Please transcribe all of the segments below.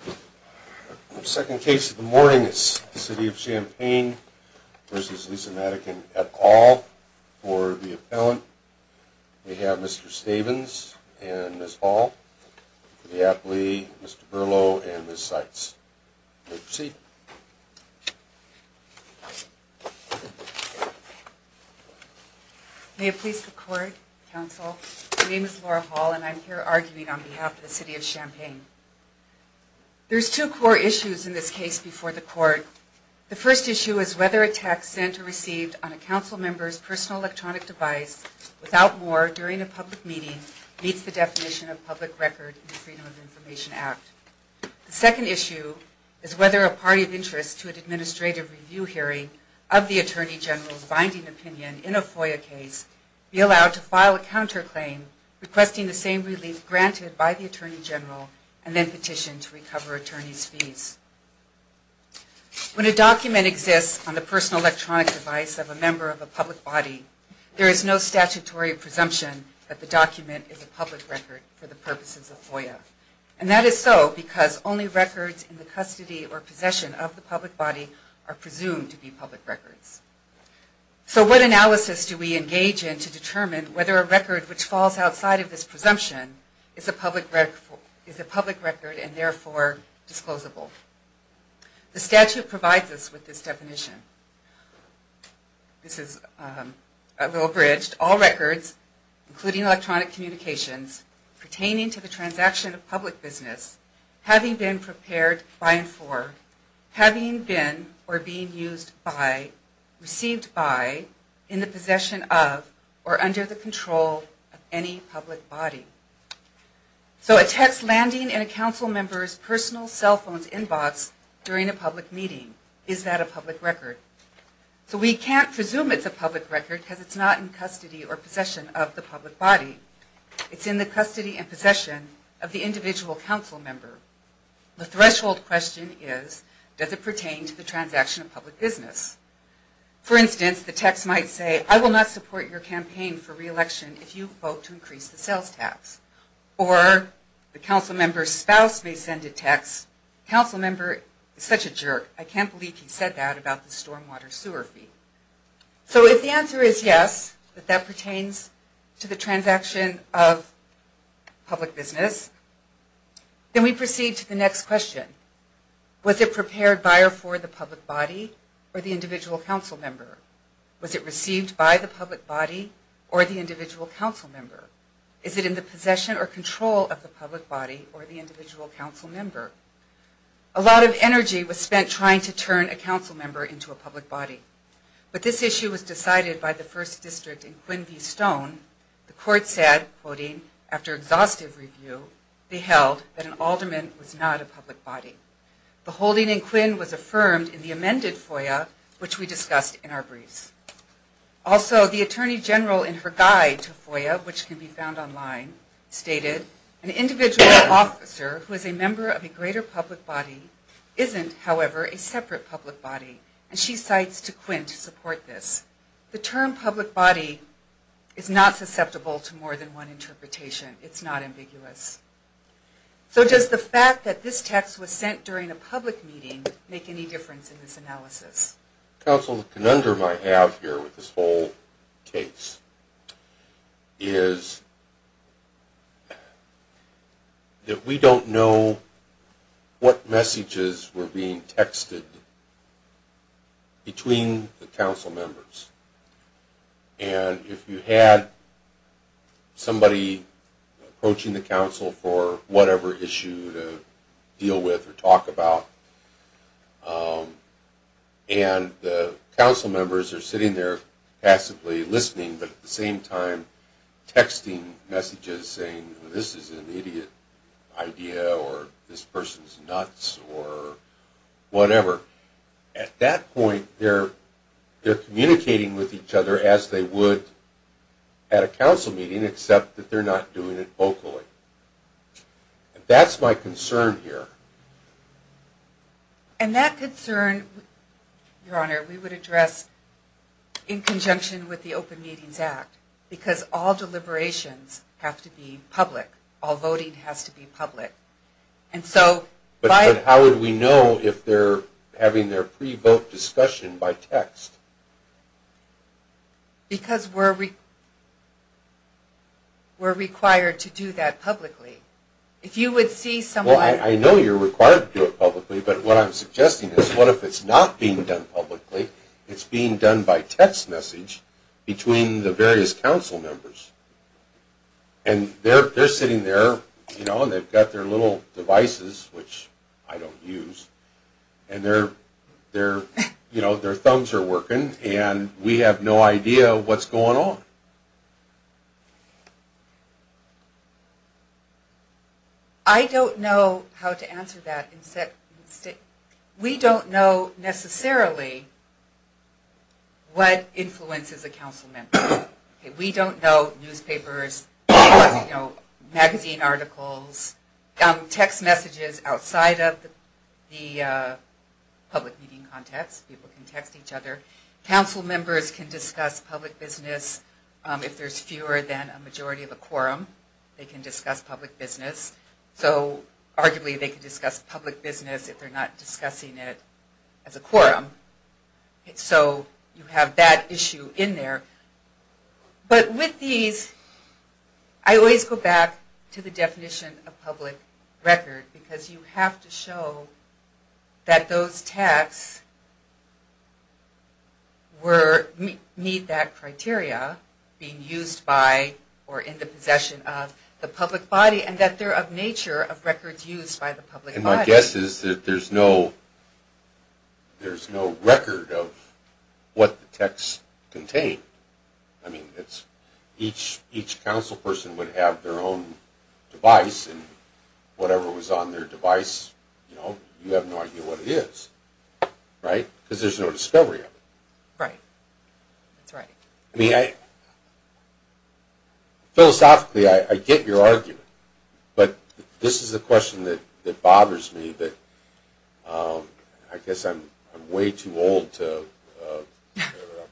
The second case of the morning is the City of Champaign v. Lisa Madigan et al. For the appellant, we have Mr. Stavens and Ms. Hall. For the athlete, Mr. Berlow and Ms. Seitz. You may proceed. May it please the court, counsel. My name is Laura Hall and I'm here arguing on behalf of the City of Champaign. There's two core issues in this case before the court. The first issue is whether a text sent or received on a council member's personal electronic device without more during a public meeting meets the definition of public record in the Freedom of Information Act. The second issue is whether a party of interest to an administrative review hearing of the Attorney General's binding opinion in a FOIA case be allowed to file a counterclaim requesting the same relief granted by the Attorney General and then petition to recover attorney's fees. When a document exists on the personal electronic device of a member of a public body, there is no statutory presumption that the document is a public record for the purposes of FOIA. And that is so because only records in the custody or possession of the public body are presumed to be public records. So what analysis do we engage in to determine whether a record which falls outside of this presumption is a public record and therefore disclosable? The statute provides us with this definition. This is a little abridged. All records, including electronic communications, pertaining to the transaction of public business, having been prepared by and for, having been or being used by, received by, in the possession of, or under the control of any public body. So a text landing in a council member's personal cell phone's inbox during a public meeting, is that a public record? So we can't presume it's a public record because it's not in custody or possession of the public body. It's in the custody and possession of the individual council member. The threshold question is, does it pertain to the transaction of public business? For instance, the text might say, I will not support your campaign for re-election if you vote to increase the sales tax. Or the council member's spouse may send a text, council member is such a jerk, I can't believe he said that about the stormwater sewer fee. So if the answer is yes, that that pertains to the transaction of public business, then we proceed to the next question. Was it prepared by or for the public body or the individual council member? Was it received by the public body or the individual council member? Is it in the possession or control of the public body or the individual council member? A lot of energy was spent trying to turn a council member into a public body. But this issue was decided by the first district in Quincy Stone. The court said, quoting, after exhaustive review, they held that an alderman was not a public body. The holding in Quinn was affirmed in the amended FOIA, which we discussed in our briefs. Also, the attorney general in her guide to FOIA, which can be found online, stated, an individual officer who is a member of a greater public body isn't, however, a separate public body. And she cites to Quinn to support this. The term public body is not susceptible to more than one interpretation. It's not ambiguous. So does the fact that this text was sent during a public meeting make any difference in this analysis? Counsel, the conundrum I have here with this whole case is that we don't know what messages were being texted between the council members. And if you had somebody approaching the council for whatever issue to deal with or talk about, and the council members are sitting there passively listening, but at the same time texting messages saying, this is an idiot idea, or this person's nuts, or whatever, at that point they're communicating with each other as they would at a council meeting, except that they're not doing it vocally. That's my concern here. And that concern, Your Honor, we would address in conjunction with the Open Meetings Act, because all deliberations have to be public. All voting has to be public. But how would we know if they're having their pre-vote discussion by text? Because we're required to do that publicly. Well, I know you're required to do it publicly, but what I'm suggesting is, what if it's not being done publicly, it's being done by text message between the various council members? And they're sitting there, you know, and they've got their little devices, which I don't use, and their thumbs are working, and we have no idea what's going on. I don't know how to answer that. We don't know necessarily what influences a council member. We don't know newspapers, magazine articles, text messages outside of the public meeting context. People can text each other. Council members can discuss public business if there's fewer than a majority of a quorum. They can discuss public business. So arguably they can discuss public business if they're not discussing it as a quorum. So you have that issue in there. But with these, I always go back to the definition of public record, because you have to show that those texts meet that criteria being used by or in the possession of the public body, and that they're of nature of records used by the public body. And my guess is that there's no record of what the texts contain. I mean, each council person would have their own device, and whatever was on their device, you have no idea what it is, right? Because there's no discovery of it. Right. That's right. I mean, philosophically, I get your argument. But this is a question that bothers me. I guess I'm way too old to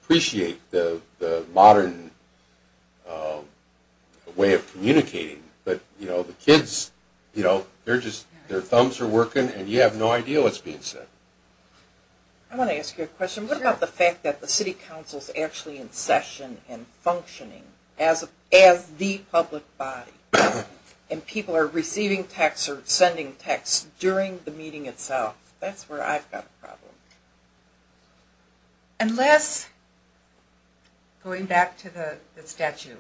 appreciate the modern way of communicating. But the kids, their thumbs are working, and you have no idea what's being said. I want to ask you a question. What about the fact that the city council is actually in session and functioning as the public body, and people are receiving texts or sending texts during the meeting itself? That's where I've got a problem. Unless, going back to the statute,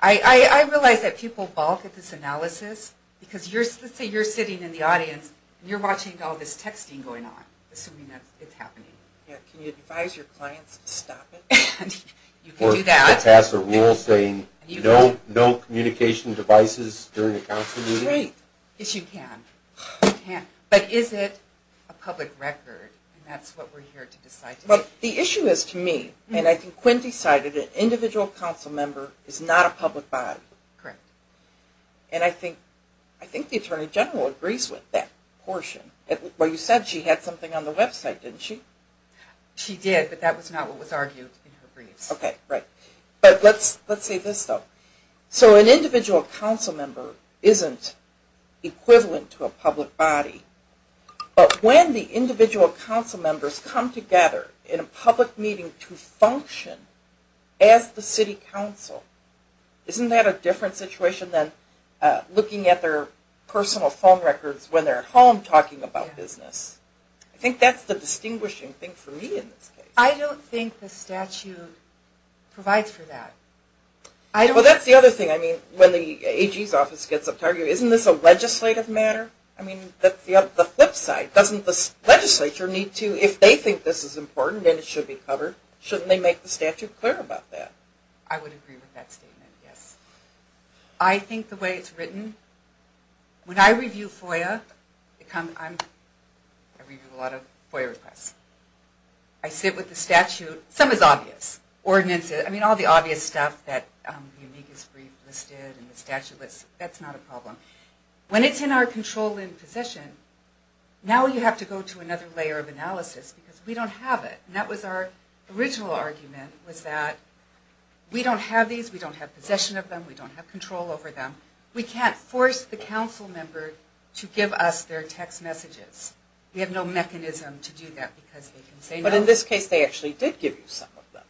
I realize that people balk at this analysis, because let's say you're sitting in the audience, and you're watching all this texting going on, assuming that it's happening. Can you advise your clients to stop it? Or pass a rule saying no communication devices during a council meeting? Yes, you can. But is it a public record, and that's what we're here to decide today. Well, the issue is to me, and I think Quinn decided, an individual council member is not a public body. Correct. And I think the Attorney General agrees with that portion. Well, you said she had something on the website, didn't she? She did, but that was not what was argued in her briefs. Okay, right. But let's say this, though. So an individual council member isn't equivalent to a public body, but when the individual council members come together in a public meeting to function as the city council, isn't that a different situation than looking at their personal phone records when they're at home talking about business? I think that's the distinguishing thing for me in this case. I don't think the statute provides for that. Well, that's the other thing. I mean, when the AG's office gets up to argue, isn't this a legislative matter? I mean, the flip side, doesn't the legislature need to, if they think this is important and it should be covered, shouldn't they make the statute clear about that? I would agree with that statement, yes. I think the way it's written, when I review FOIA, I review a lot of FOIA requests. I sit with the statute. Some is obvious. Ordinances, I mean, all the obvious stuff that the amicus brief listed and the statute list, that's not a problem. When it's in our control and possession, now you have to go to another layer of analysis because we don't have it. That was our original argument, was that we don't have these. We don't have possession of them. We don't have control over them. We can't force the council member to give us their text messages. We have no mechanism to do that because they can say no. But in this case, they actually did give you some of them.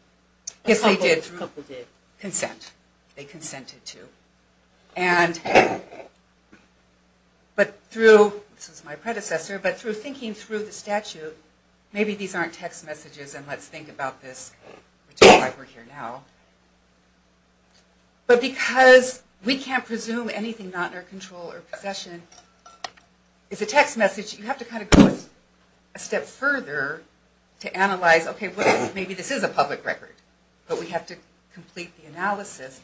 Yes, they did. A couple did. Consent. But through, this was my predecessor, but through thinking through the statute, maybe these aren't text messages and let's think about this, which is why we're here now. But because we can't presume anything not in our control or possession is a text message, you have to kind of go a step further to analyze, okay, maybe this is a public record. But we have to complete the analysis.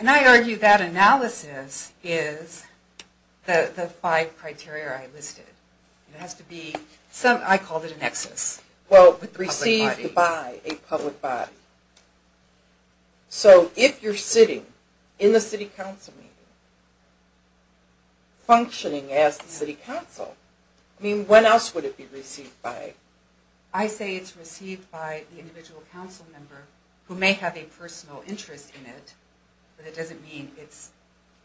And I argue that analysis is the five criteria I listed. It has to be, I called it a nexus. Well, received by a public body. So if you're sitting in the city council meeting, functioning as the city council, I mean, when else would it be received by? I say it's received by the individual council member who may have a personal interest in it, but it doesn't mean it's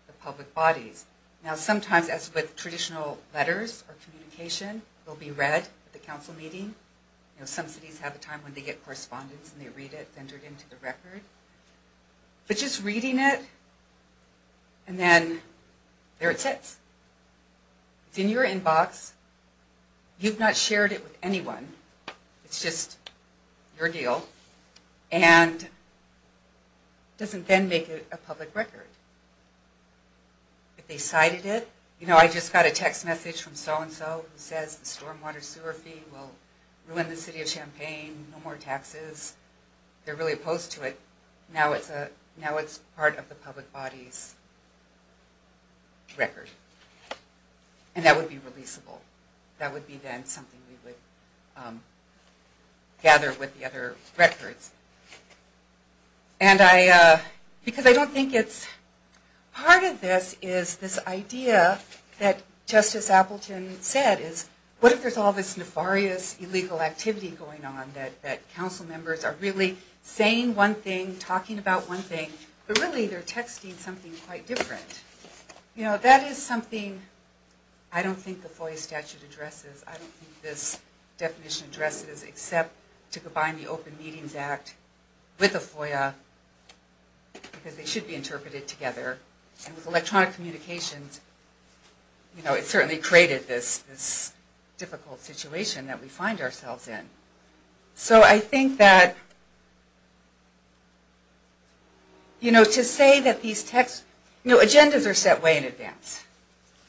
the public bodies. Now, sometimes as with traditional letters or communication, it will be read at the council meeting. Some cities have a time when they get correspondence and they read it, send it into the record. But just reading it and then there it sits. It's in your inbox. You've not shared it with anyone. It's just your deal. And it doesn't then make a public record. If they cited it, you know, I just got a text message from so-and-so who says the stormwater sewer fee will ruin the city of Champaign, no more taxes. They're really opposed to it. Now it's part of the public body's record. And that would be releasable. That would be then something we would gather with the other records. And I, because I don't think it's, part of this is this idea that Justice Appleton said, is what if there's all this nefarious illegal activity going on that council members are really saying one thing, talking about one thing, but really they're texting something quite different. You know, that is something I don't think the FOIA statute addresses. I don't think this definition addresses except to combine the Open Meetings Act with the FOIA because they should be interpreted together. And with electronic communications, you know, it certainly created this difficult situation that we find ourselves in. So I think that, you know, to say that these texts, you know, agendas are set way in advance.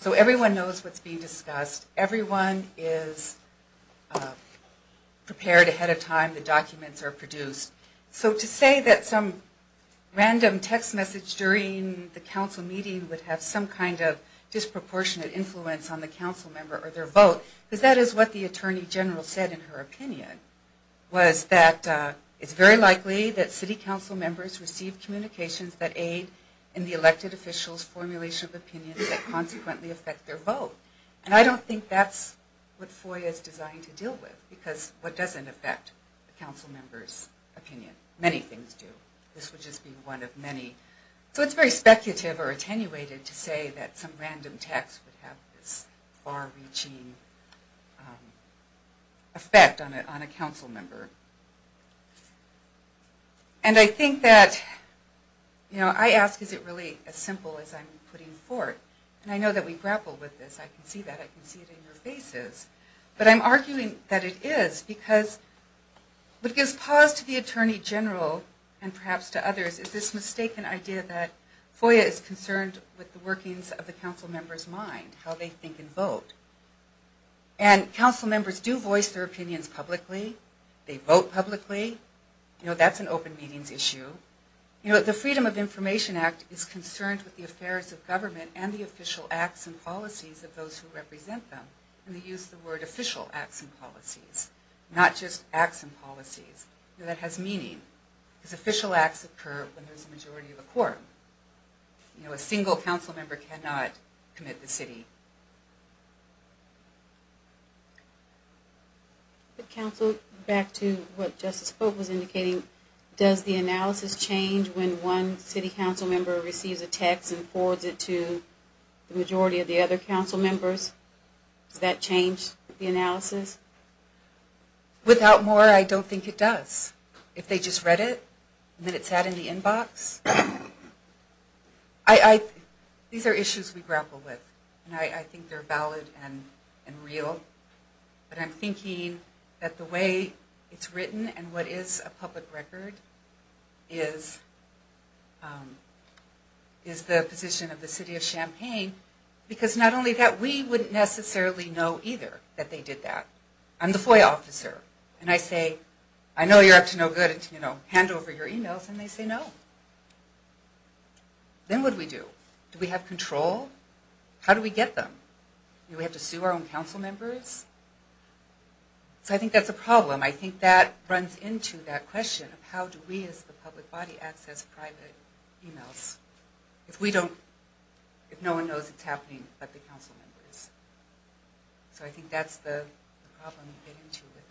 So everyone knows what's being discussed. Everyone is prepared ahead of time. The documents are produced. So to say that some random text message during the council meeting would have some kind of disproportionate influence on the council member or their vote, because that is what the Attorney General said in her opinion, was that it's very likely that city council members receive communications that aid in the elected official's formulation of opinions that consequently affect their vote. And I don't think that's what FOIA is designed to deal with because what doesn't affect a council member's opinion? Many things do. This would just be one of many. So it's very speculative or attenuated to say that some random text would have this far-reaching effect on a council member. And I think that, you know, I ask, is it really as simple as I'm putting forth? And I know that we grapple with this. I can see that. I can see it in your faces. But I'm arguing that it is because what gives pause to the Attorney General and perhaps to others is this mistaken idea that FOIA is concerned with the workings of the council member's mind, how they think and vote. And council members do voice their opinions publicly. They vote publicly. You know, that's an open meetings issue. You know, the Freedom of Information Act is concerned with the affairs of government and the official acts and policies of those who represent them. And they use the word official acts and policies, not just acts and policies. You know, that has meaning because official acts occur when there's a majority of the court. You know, a single council member cannot commit the city. Back to what Justice Pope was indicating, does the analysis change when one city council member receives a text and forwards it to the majority of the other council members? Does that change the analysis? Without more, I don't think it does. If they just read it and then it's out in the inbox. These are issues we grapple with. And I think they're valid and real. But I'm thinking that the way it's written and what is a public record is the position of the city of Champaign. Because not only that, we wouldn't necessarily know either that they did that. I'm the FOIA officer. And I say, I know you're up to no good, you know, hand over your emails. And they say no. Then what do we do? Do we have control? How do we get them? Do we have to sue our own council members? So I think that's a problem. I think that runs into that question of how do we as the public body access private emails if we don't, if no one knows it's happening but the council members. So I think that's the problem we get into with that.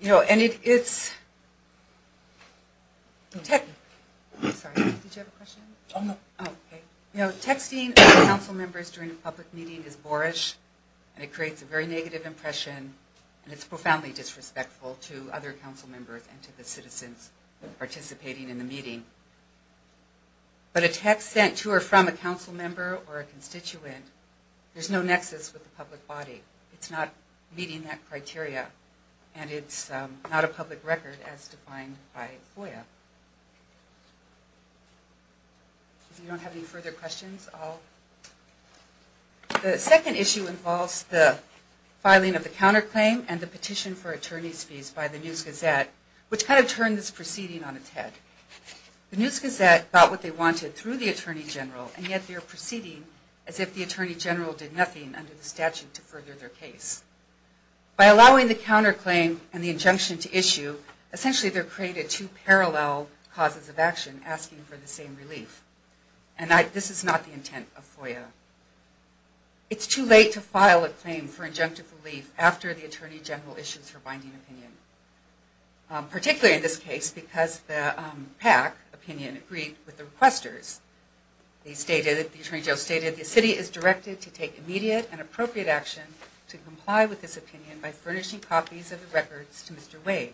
You know, and it's, sorry, did you have a question? No. Okay. You know, texting council members during a public meeting is boorish and it creates a very negative impression and it's profoundly disrespectful to other council members and to the citizens participating in the meeting. But a text sent to or from a council member or a constituent, there's no nexus with the public body. It's not meeting that criteria. And it's not a public record as defined by FOIA. If you don't have any further questions, I'll. The second issue involves the filing of the counterclaim and the petition for attorney's fees by the News Gazette, which kind of turned this proceeding on its head. The News Gazette got what they wanted through the Attorney General, and yet they're proceeding as if the Attorney General did nothing under the statute to further their case. By allowing the counterclaim and the injunction to issue, essentially they're creating two parallel causes of action asking for the same relief. And this is not the intent of FOIA. It's too late to file a claim for injunctive relief after the Attorney General issues her binding opinion, particularly in this case because the PAC opinion agreed with the requesters. They stated, the Attorney General stated, the city is directed to take immediate and appropriate action to comply with this opinion by furnishing copies of the records to Mr. Wade.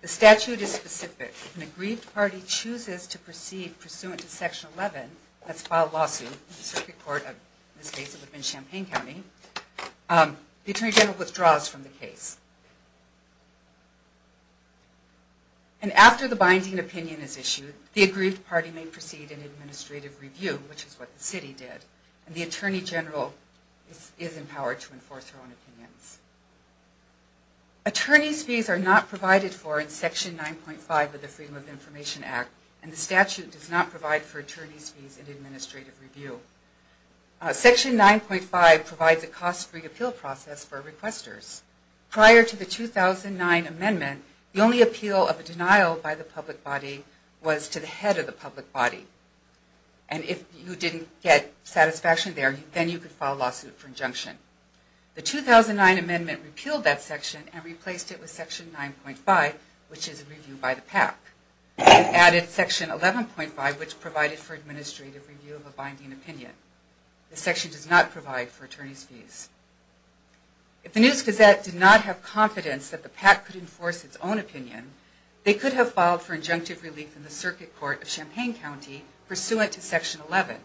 The statute is specific. If an aggrieved party chooses to proceed pursuant to Section 11, that's filed lawsuit, in this case it would have been Champaign County, the Attorney General withdraws from the case. And after the binding opinion is issued, the aggrieved party may proceed in administrative review, which is what the city did. And the Attorney General is empowered to enforce her own opinions. Attorney's fees are not provided for in Section 9.5 of the Freedom of Information Act, and the statute does not provide for attorney's fees in administrative review. Section 9.5 provides a cost-free appeal process for requesters. Prior to the 2009 amendment, the only appeal of a denial by the public body was to the head of the public body. And if you didn't get satisfaction there, then you could file a lawsuit for injunction. The 2009 amendment repealed that section and replaced it with Section 9.5, which is a review by the PAC, and added Section 11.5, which provided for administrative review of a binding opinion. This section does not provide for attorney's fees. If the News-Gazette did not have confidence that the PAC could enforce its own opinion, they could have filed for injunctive relief in the Circuit Court of Champaign County pursuant to Section 11.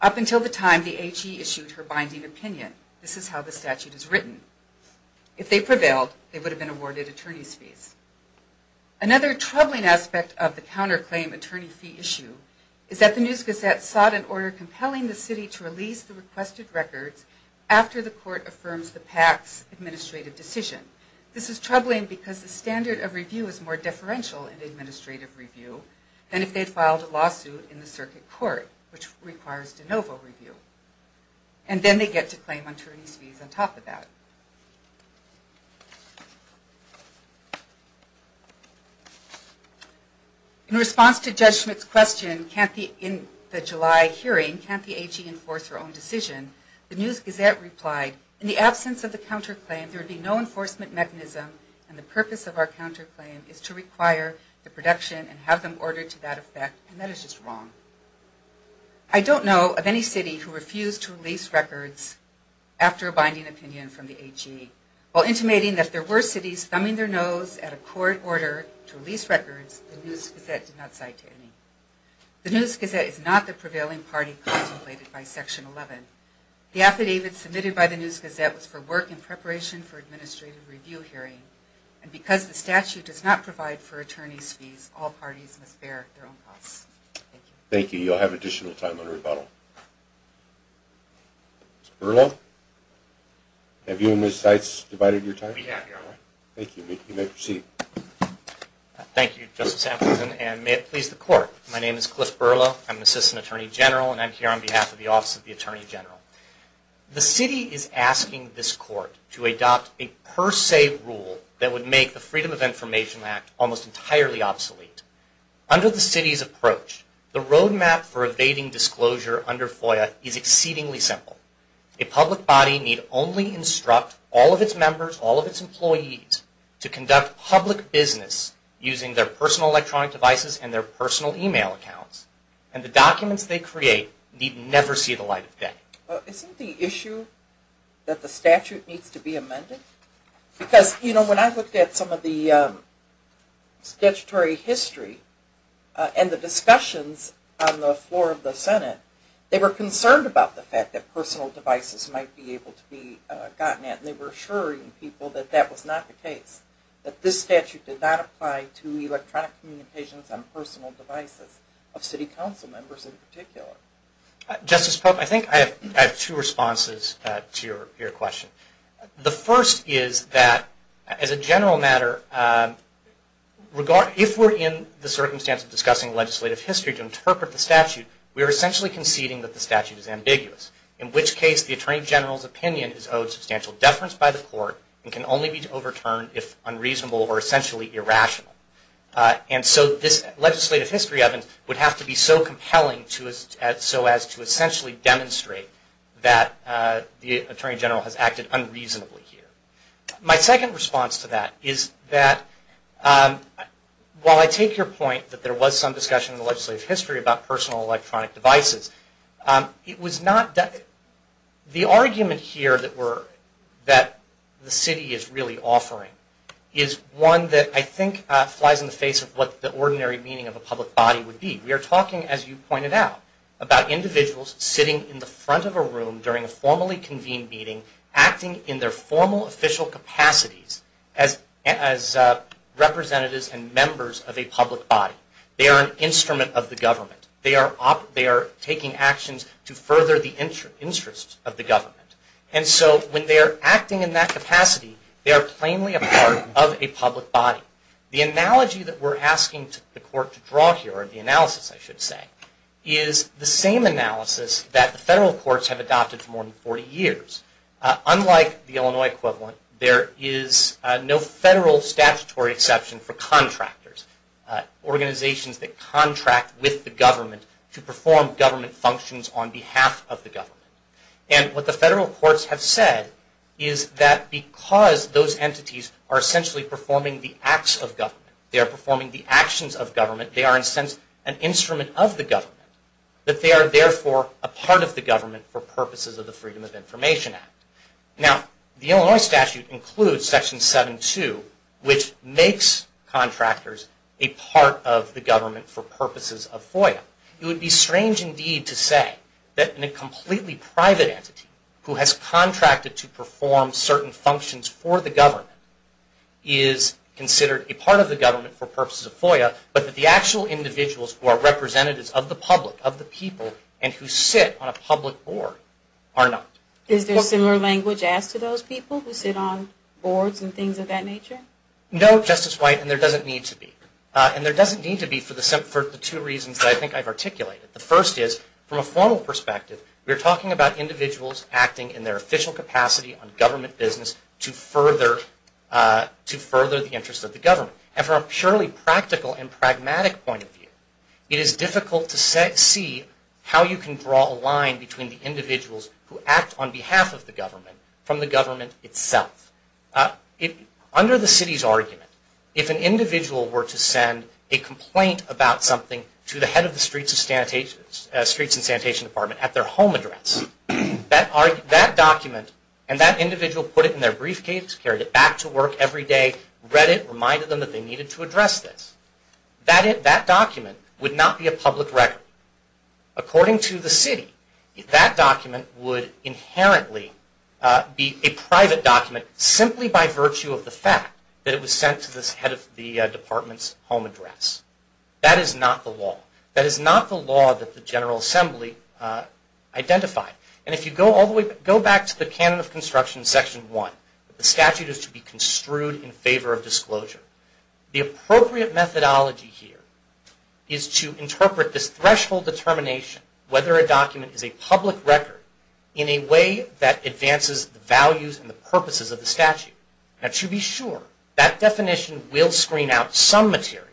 Up until the time the HE issued her binding opinion, this is how the statute is written. If they prevailed, they would have been awarded attorney's fees. Another troubling aspect of the counterclaim attorney fee issue is that the News-Gazette sought an order compelling the city to release the requested records after the court affirms the PAC's administrative decision. This is troubling because the standard of review is more deferential in administrative review than if they filed a lawsuit in the Circuit Court, which requires de novo review. And then they get to claim attorney's fees on top of that. In response to Judge Schmidt's question, in the July hearing, can't the HE enforce her own decision, the News-Gazette replied, in the absence of the counterclaim, there would be no enforcement mechanism, and the purpose of our counterclaim is to require the production and have them ordered to that effect, and that is just wrong. I don't know of any city who refused to release records after a binding opinion from the HE. While intimating that there were cities thumbing their nose at a court order to release records, the News-Gazette did not cite any. The News-Gazette is not the prevailing party contemplated by Section 11. The affidavit submitted by the News-Gazette was for work in preparation for administrative review hearing, and because the statute does not provide for attorney's fees, all parties must bear their own costs. Thank you. You'll have additional time on rebuttal. Mr. Berlow? Have you and Ms. Seitz divided your time? We have, Your Honor. Thank you. You may proceed. Thank you, Justice Anderson, and may it please the Court. My name is Cliff Berlow. I'm an assistant attorney general, and I'm here on behalf of the Office of the Attorney General. The city is asking this Court to adopt a per se rule that would make the Freedom of Information Act almost entirely obsolete. Under the city's approach, the roadmap for evading disclosure under FOIA is exceedingly simple. A public body need only instruct all of its members, all of its employees, to conduct public business using their personal electronic devices and their personal e-mail accounts, and the documents they create need never see the light of day. Isn't the issue that the statute needs to be amended? Because, you know, when I looked at some of the statutory history and the discussions on the floor of the Senate, they were concerned about the fact that personal devices might be able to be gotten at, and they were assuring people that that was not the case, that this statute did not apply to electronic communications on personal devices of city council members in particular. Justice Pope, I think I have two responses to your question. The first is that, as a general matter, if we're in the circumstance of discussing legislative history to interpret the statute, we are essentially conceding that the statute is ambiguous, in which case the Attorney General's opinion is owed substantial deference by the Court and can only be overturned if unreasonable or essentially irrational. And so this legislative history evidence would have to be so compelling so as to essentially demonstrate that the Attorney General has acted unreasonably here. My second response to that is that, while I take your point that there was some discussion in the legislative history about personal electronic devices, the argument here that the city is really offering is one that I think flies in the face of what the ordinary meaning of a public body would be. We are talking, as you pointed out, about individuals sitting in the front of a room during a formally convened meeting acting in their formal official capacities as representatives and members of a public body. They are an instrument of the government. They are taking actions to further the interests of the government. And so when they are acting in that capacity, they are plainly a part of a public body. The analogy that we are asking the Court to draw here, or the analysis I should say, is the same analysis that the federal courts have adopted for more than 40 years. Unlike the Illinois equivalent, there is no federal statutory exception for contractors, organizations that contract with the government to perform government functions on behalf of the government. And what the federal courts have said is that because those entities are essentially performing the acts of government, they are performing the actions of government, they are in a sense an instrument of the government, that they are therefore a part of the government for purposes of the Freedom of Information Act. Now, the Illinois statute includes Section 7-2, which makes contractors a part of the government for purposes of FOIA. It would be strange indeed to say that in a completely private entity who has contracted to perform certain functions for the government is considered a part of the government for purposes of FOIA, but that the actual individuals who are representatives of the public, of the people, and who sit on a public board are not. Is there similar language asked to those people who sit on boards and things of that nature? No, Justice White, and there doesn't need to be. And there doesn't need to be for the two reasons that I think I've articulated. The first is, from a formal perspective, we're talking about individuals acting in their official capacity on government business to further the interests of the government. And from a purely practical and pragmatic point of view, it is difficult to see how you can draw a line between the individuals who act on behalf of the government from the government itself. Under the city's argument, if an individual were to send a complaint about something to the head of the Streets and Sanitation Department at their home address, that document, and that individual put it in their briefcase, carried it back to work every day, read it, reminded them that they needed to address this, that document would not be a public record. According to the city, that document would inherently be a private document simply by virtue of the fact that it was sent to the head of the department's home address. That is not the law. That is not the law that the General Assembly identified. And if you go back to the Canon of Construction, Section 1, the statute is to be construed in favor of disclosure. The appropriate methodology here is to interpret this threshold determination, whether a document is a public record, in a way that advances the values and the purposes of the statute. Now to be sure, that definition will screen out some material,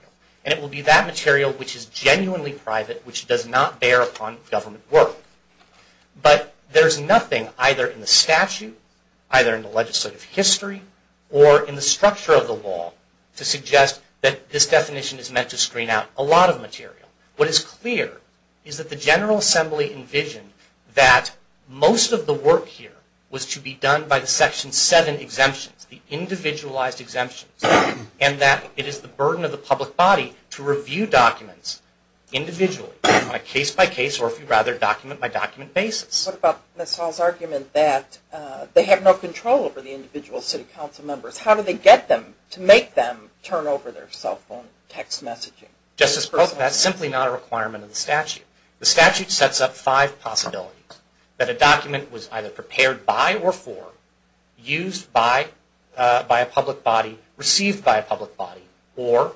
and it will be that material which is genuinely private, which does not bear upon government work. But there's nothing either in the statute, either in the legislative history, or in the structure of the law to suggest that this definition is meant to screen out a lot of material. What is clear is that the General Assembly envisioned that most of the work here was to be done by the Section 7 exemptions, the individualized exemptions, and that it is the burden of the public body to review documents individually, case-by-case, or if you'd rather, document-by-document basis. What about Ms. Hall's argument that they have no control over the individual city council members? How do they get them to make them turn over their cell phone, text messaging? The statute sets up five possibilities. That a document was either prepared by or for, used by a public body, received by a public body, or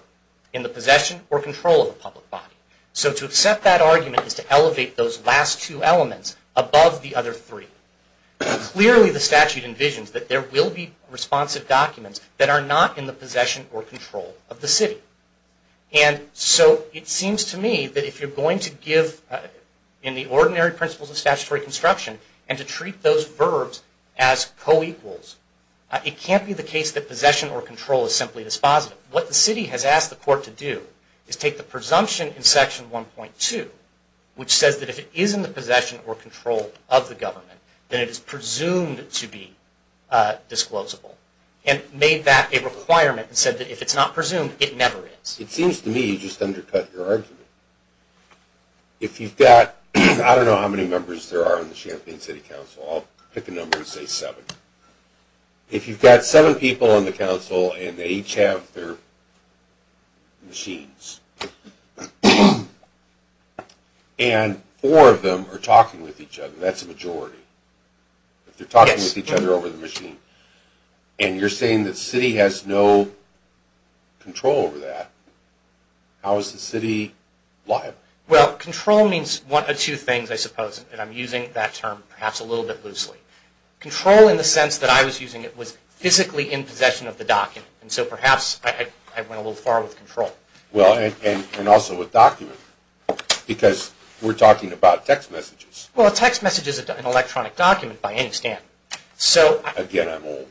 in the possession or control of a public body. So to accept that argument is to elevate those last two elements above the other three. Clearly the statute envisions that there will be responsive documents that are not in the possession or control of the city. And so it seems to me that if you're going to give in the ordinary principles of statutory construction and to treat those verbs as co-equals, it can't be the case that possession or control is simply dispositive. What the city has asked the court to do is take the presumption in Section 1.2, which says that if it is in the possession or control of the government, then it is presumed to be disclosable, and made that a requirement and said that if it's not presumed, it never is. It seems to me you just undercut your argument. If you've got, I don't know how many members there are in the Champaign City Council, I'll pick a number and say seven. If you've got seven people on the council and they each have their machines, and four of them are talking with each other, that's a majority. If they're talking with each other over the machine, and you're saying the city has no control over that, how is the city liable? Well, control means one of two things, I suppose, and I'm using that term perhaps a little bit loosely. Control in the sense that I was using it was physically in possession of the document, and so perhaps I went a little far with control. Well, and also with document, because we're talking about text messages. Well, a text message is an electronic document by any standard. Again, I'm old.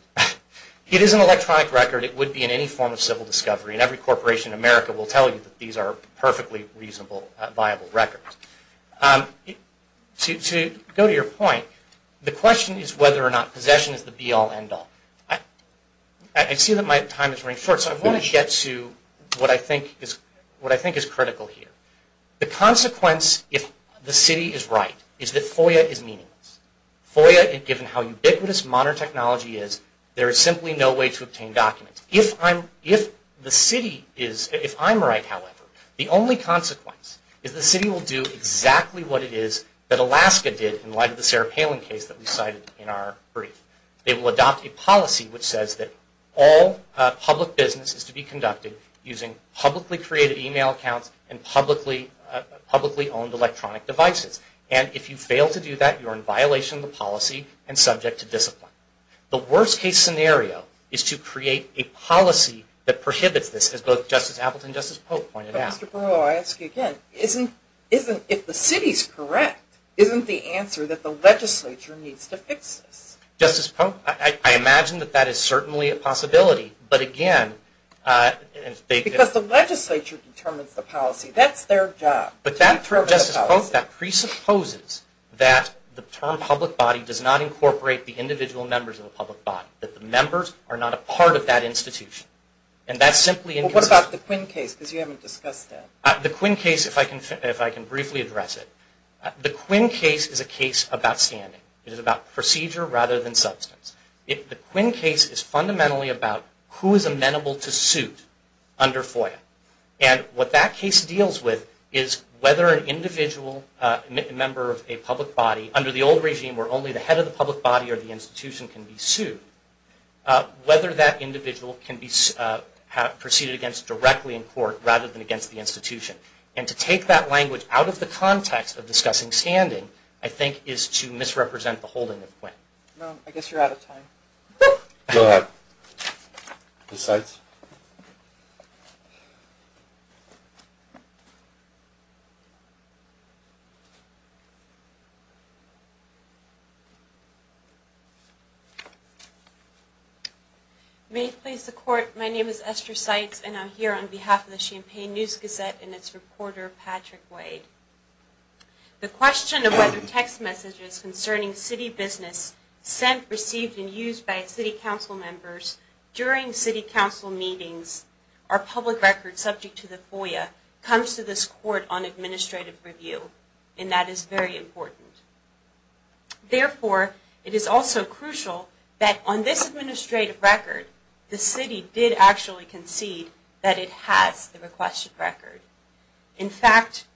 It is an electronic record. It would be in any form of civil discovery, and every corporation in America will tell you that these are perfectly reasonable, viable records. To go to your point, the question is whether or not possession is the be-all, end-all. I see that my time is running short, so I want to get to what I think is critical here. The consequence, if the city is right, is that FOIA is meaningless. FOIA, given how ubiquitous modern technology is, there is simply no way to obtain documents. If I'm right, however, the only consequence is the city will do exactly what it is that Alaska did in light of the Sarah Palin case that we cited in our brief. They will adopt a policy which says that all public business is to be conducted using publicly created email accounts and publicly owned electronic devices. If you fail to do that, you are in violation of the policy and subject to discipline. The worst case scenario is to create a policy that prohibits this, as both Justice Appleton and Justice Pope pointed out. But Mr. Perlow, I ask you again, if the city is correct, isn't the answer that the legislature needs to fix this? Justice Pope, I imagine that that is certainly a possibility. Because the legislature determines the policy. That's their job. But that presupposes that the term public body does not incorporate the individual members of the public body. That the members are not a part of that institution. What about the Quinn case? Because you haven't discussed that. The Quinn case, if I can briefly address it. The Quinn case is a case about standing. It is about procedure rather than substance. The Quinn case is fundamentally about who is amenable to suit under FOIA. And what that case deals with is whether an individual member of a public body, under the old regime where only the head of the public body or the institution can be sued, whether that individual can be proceeded against directly in court rather than against the institution. And to take that language out of the context of discussing standing, No, I guess you're out of time. Go ahead. May it please the court, my name is Esther Seitz and I'm here on behalf of the Champaign News-Gazette and its reporter, Patrick Wade. The question of whether text messages concerning city business sent, received and used by city council members during city council meetings are public record subject to the FOIA comes to this court on administrative review. And that is very important. Therefore, it is also crucial that on this administrative record, the city did actually concede that it has the requested record. In fact,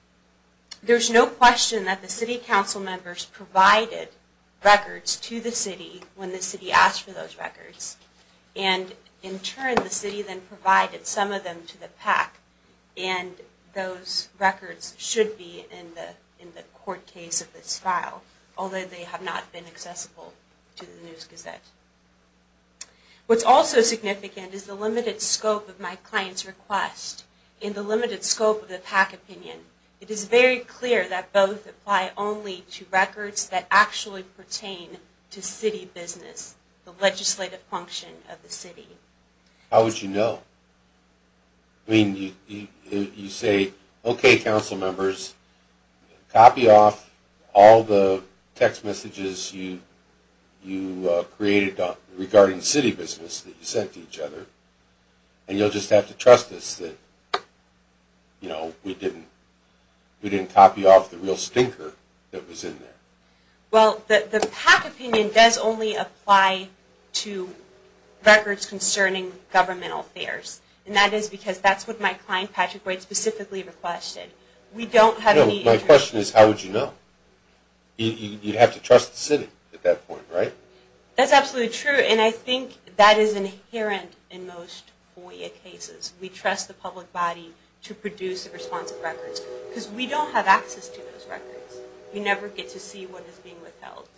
there's no question that the city council members provided records to the city when the city asked for those records. And in turn, the city then provided some of them to the PAC. And those records should be in the court case of this file, although they have not been accessible to the News-Gazette. What's also significant is the limited scope of my client's request. In the limited scope of the PAC opinion, it is very clear that both apply only to records that actually pertain to city business, the legislative function of the city. How would you know? I mean, you say, okay, council members, copy off all the text messages you created regarding city business that you sent to each other. And you'll just have to trust us that we didn't copy off the real stinker that was in there. Well, the PAC opinion does only apply to records concerning governmental affairs. And that is because that's what my client, Patrick White, specifically requested. My question is, how would you know? You'd have to trust the city at that point, right? That's absolutely true. And I think that is inherent in most FOIA cases. We trust the public body to produce the responsive records, because we don't have access to those records. We never get to see what is being withheld.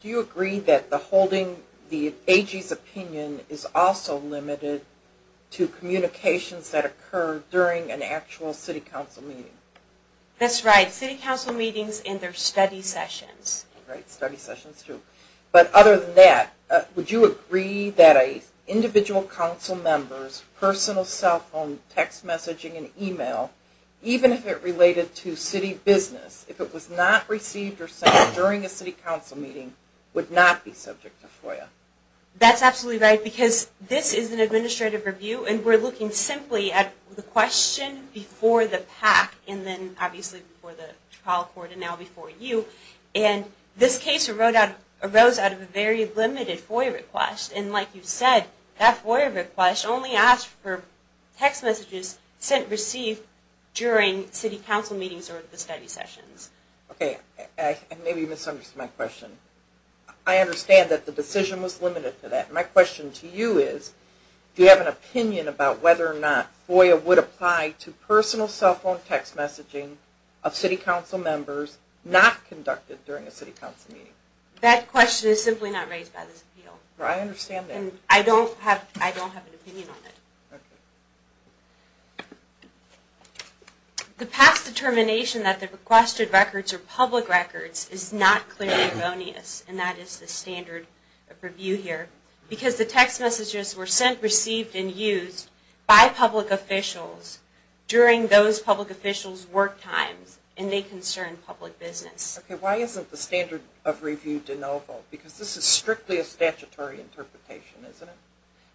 Do you agree that the holding the AG's opinion is also limited to communications that occur during an actual city council meeting? That's right. City council meetings and their study sessions. Right, study sessions, too. But other than that, would you agree that an individual council member's personal cell phone, text messaging, and email, even if it related to city business, if it was not received or sent during a city council meeting, would not be subject to FOIA? That's absolutely right, because this is an administrative review, and we're looking simply at the question before the PAC, and then obviously before the trial court, and now before you. And this case arose out of a very limited FOIA request. And like you said, that FOIA request only asked for text messages sent and received during city council meetings or at the study sessions. Okay. Maybe you misunderstood my question. I understand that the decision was limited to that. My question to you is, do you have an opinion about whether or not FOIA would apply to personal cell phone text messaging of city council members not conducted during a city council meeting? That question is simply not raised by this appeal. I understand that. And I don't have an opinion on it. Okay. The past determination that the requested records are public records is not clearly erroneous, and that is the standard review here, because the text messages were sent, received, and used by public officials during those public officials' work times, and they concern public business. Okay. Why isn't the standard of review de novo? Because this is strictly a statutory interpretation, isn't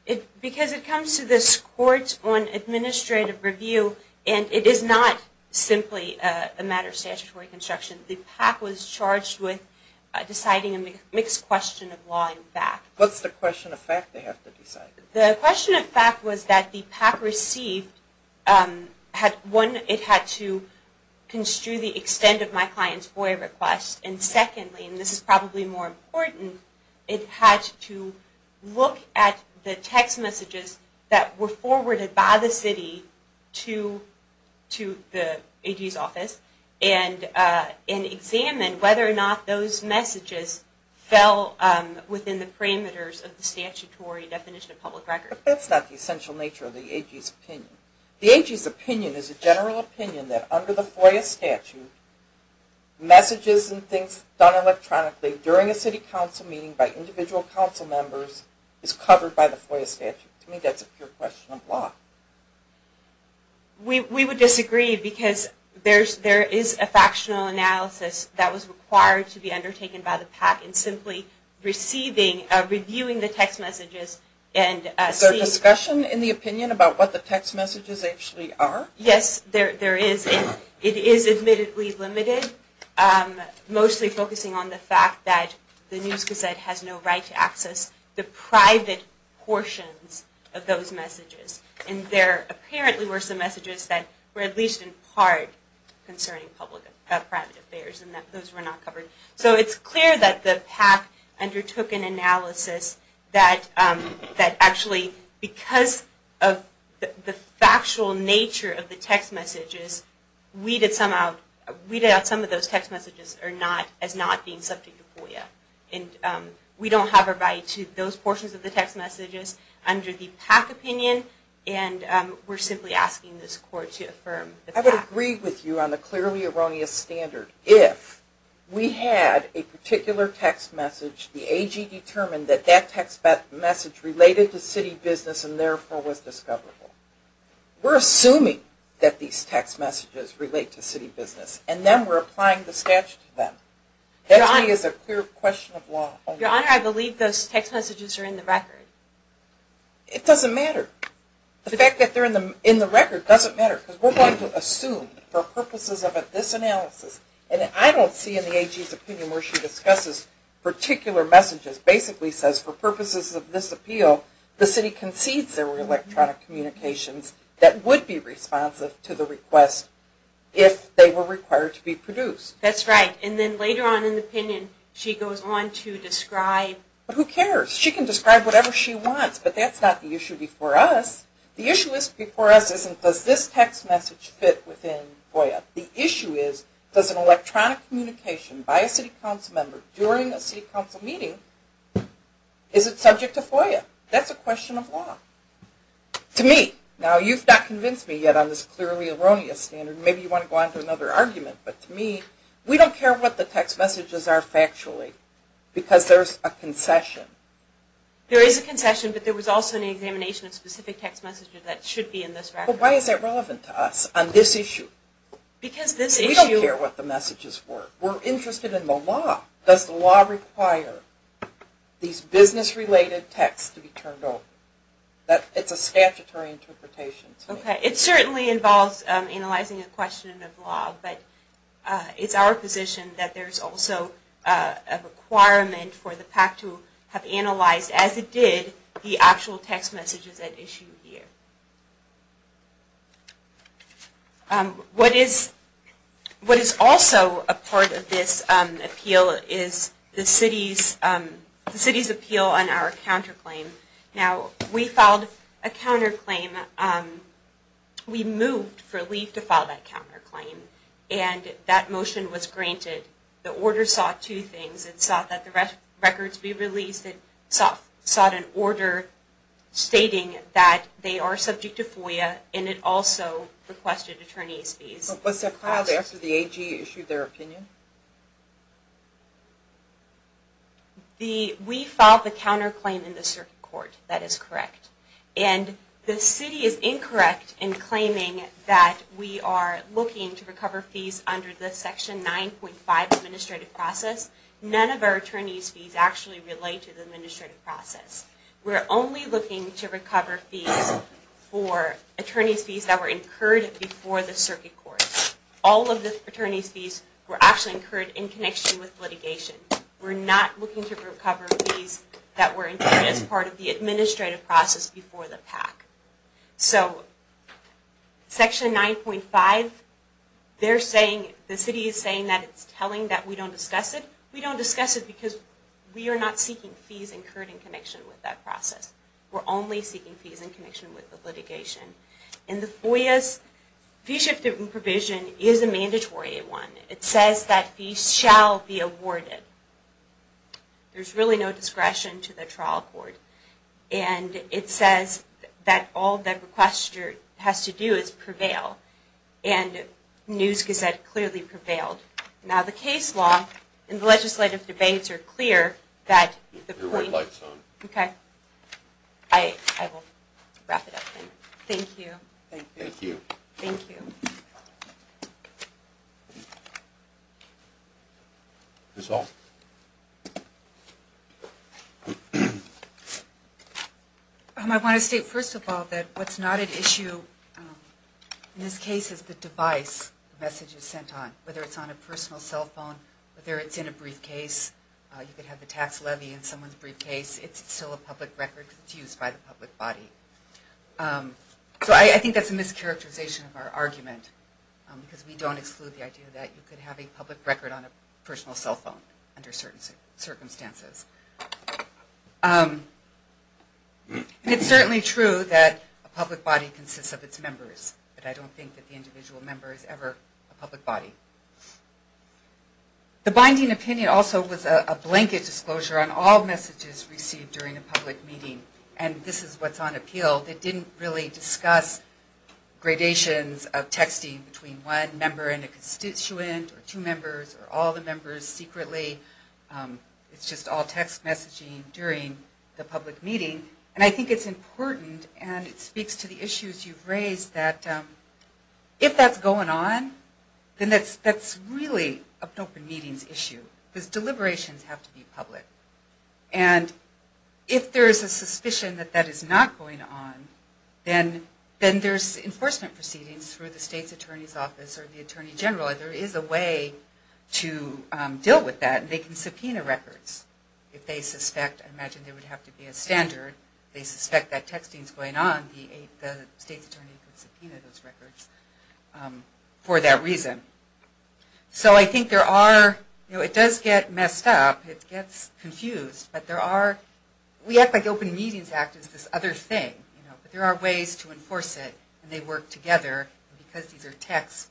it? Because it comes to this court on administrative review, and it is not simply a matter of statutory construction. The PAC was charged with deciding a mixed question of law and fact. What's the question of fact they have to decide? The question of fact was that the PAC received, one, it had to construe the extent of my client's FOIA request, and secondly, and this is probably more important, it had to look at the text messages that were forwarded by the city to the AG's office and examine whether or not those messages fell within the parameters of the statutory definition of public records. But that's not the essential nature of the AG's opinion. The AG's opinion is a general opinion that under the FOIA statute, messages and things done electronically during a city council meeting by individual council members is covered by the FOIA statute. To me, that's a pure question of law. We would disagree because there is a factional analysis that was required to be undertaken by the PAC in simply receiving, reviewing the text messages and seeing... Is there discussion in the opinion about what the text messages actually are? Yes, there is. It is admittedly limited, mostly focusing on the fact that the News Gazette has no right to access the private portions of those messages. And there apparently were some messages that were at least in part concerning private affairs, and those were not covered. So it's clear that the PAC undertook an analysis that actually, because of the factual nature of the text messages, weeded out some of those text messages as not being subject to FOIA. We don't have a right to those portions of the text messages. It's under the PAC opinion, and we're simply asking this court to affirm. I would agree with you on the clearly erroneous standard. If we had a particular text message, the AG determined that that text message related to city business and therefore was discoverable. We're assuming that these text messages relate to city business, and then we're applying the statute to them. That to me is a clear question of law. Your Honor, I believe those text messages are in the record. It doesn't matter. The fact that they're in the record doesn't matter, because we're going to assume for purposes of this analysis, and I don't see in the AG's opinion where she discusses particular messages, basically says for purposes of this appeal, the city concedes there were electronic communications that would be responsive to the request if they were required to be produced. That's right. And then later on in the opinion, she goes on to describe. Who cares? She can describe whatever she wants, but that's not the issue before us. The issue before us isn't does this text message fit within FOIA. The issue is does an electronic communication by a city council member during a city council meeting, is it subject to FOIA? That's a question of law. To me, now you've not convinced me yet on this clearly erroneous standard. Maybe you want to go on to another argument, but to me we don't care what the text messages are factually, because there's a concession. There is a concession, but there was also an examination of specific text messages that should be in this record. But why is that relevant to us on this issue? Because this issue. We don't care what the messages were. We're interested in the law. Does the law require these business-related texts to be turned over? It's a statutory interpretation to me. It certainly involves analyzing a question of law, but it's our position that there's also a requirement for the PAC to have analyzed as it did the actual text messages at issue here. What is also a part of this appeal is the city's appeal on our counterclaim. We filed a counterclaim. We moved for Lee to file that counterclaim, and that motion was granted. The order sought two things. It sought that the records be released. It sought an order stating that they are subject to FOIA, and it also requested attorney's fees. Was that filed after the AG issued their opinion? We filed the counterclaim in the circuit court. That is correct. And the city is incorrect in claiming that we are looking to recover fees under the Section 9.5 administrative process. None of our attorney's fees actually relate to the administrative process. We're only looking to recover fees for attorney's fees that were incurred before the circuit court. All of the attorney's fees were actually incurred in connection with litigation. We're not looking to recover fees that were incurred as part of the administrative process before the PAC. So Section 9.5, the city is saying that it's telling that we don't discuss it. We don't discuss it because we are not seeking fees incurred in connection with that process. We're only seeking fees in connection with the litigation. And the FOIA's fee-shifting provision is a mandatory one. It says that fees shall be awarded. There's really no discretion to the trial court. And it says that all that requester has to do is prevail. And News-Gazette clearly prevailed. Now the case law and the legislative debates are clear that... Your white light's on. Okay. I will wrap it up then. Thank you. Thank you. Thank you. That's all. I want to state first of all that what's not at issue in this case is the device the message is sent on, whether it's on a personal cell phone, whether it's in a briefcase. You could have the tax levy in someone's briefcase. It's still a public record because it's used by the public body. So I think that's a mischaracterization of our argument because we don't exclude the idea that you could have a public record on a personal cell phone under certain circumstances. And it's certainly true that a public body consists of its members, but I don't think that the individual member is ever a public body. The binding opinion also was a blanket disclosure on all messages received during a public meeting. And this is what's on appeal. They didn't really discuss gradations of texting between one member and a constituent or two members or all the members secretly. It's just all text messaging during the public meeting. And I think it's important, and it speaks to the issues you've raised, that if that's going on, then that's really an open meetings issue because deliberations have to be public. And if there's a suspicion that that is not going on, then there's enforcement proceedings through the state's attorney's office or the attorney general. There is a way to deal with that, and they can subpoena records if they suspect, I imagine there would have to be a standard, if they suspect that texting is going on, the state's attorney could subpoena those records for that reason. So I think there are, it does get messed up, it gets confused, but there are, we act like the Open Meetings Act is this other thing, but there are ways to enforce it, and they work together. And because these are texts,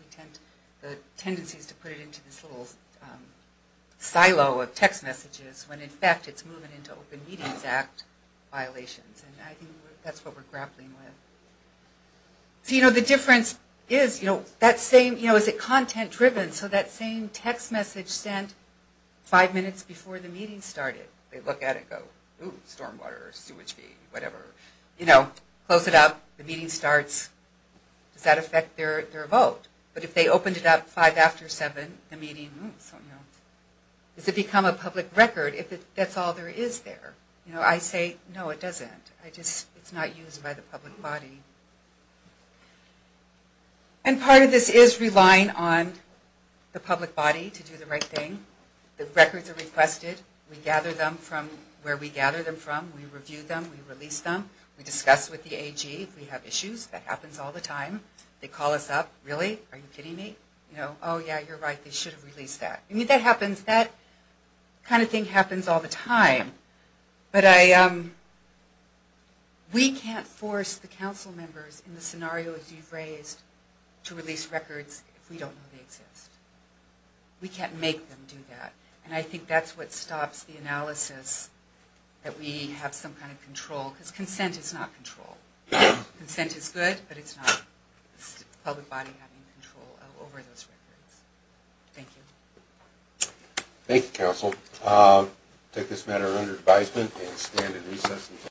the tendency is to put it into this little silo of text messages, when in fact it's moving into Open Meetings Act violations, and I think that's what we're grappling with. So you know, the difference is, you know, that same, you know, is it content driven, so that same text message sent five minutes before the meeting started, they look at it and go, ooh, storm water, sewage fee, whatever. You know, close it up, the meeting starts, does that affect their vote? But if they opened it up five after seven, the meeting, ooh, something else. Does it become a public record if that's all there is there? You know, I say, no, it doesn't. I just, it's not used by the public body. And part of this is relying on the public body to do the right thing. The records are requested, we gather them from where we gather them from, we review them, we release them, we discuss with the AG if we have issues, that happens all the time. They call us up, really, are you kidding me? You know, oh yeah, you're right, they should have released that. I mean, that happens, that kind of thing happens all the time. But I, we can't force the council members in the scenarios you've raised to release records if we don't know they exist. We can't make them do that. And I think that's what stops the analysis that we have some kind of control, because consent is not control. Consent is good, but it's not. It's the public body having control over those records. Thank you. Thank you, council. I take this matter under advisement and stand in recess until.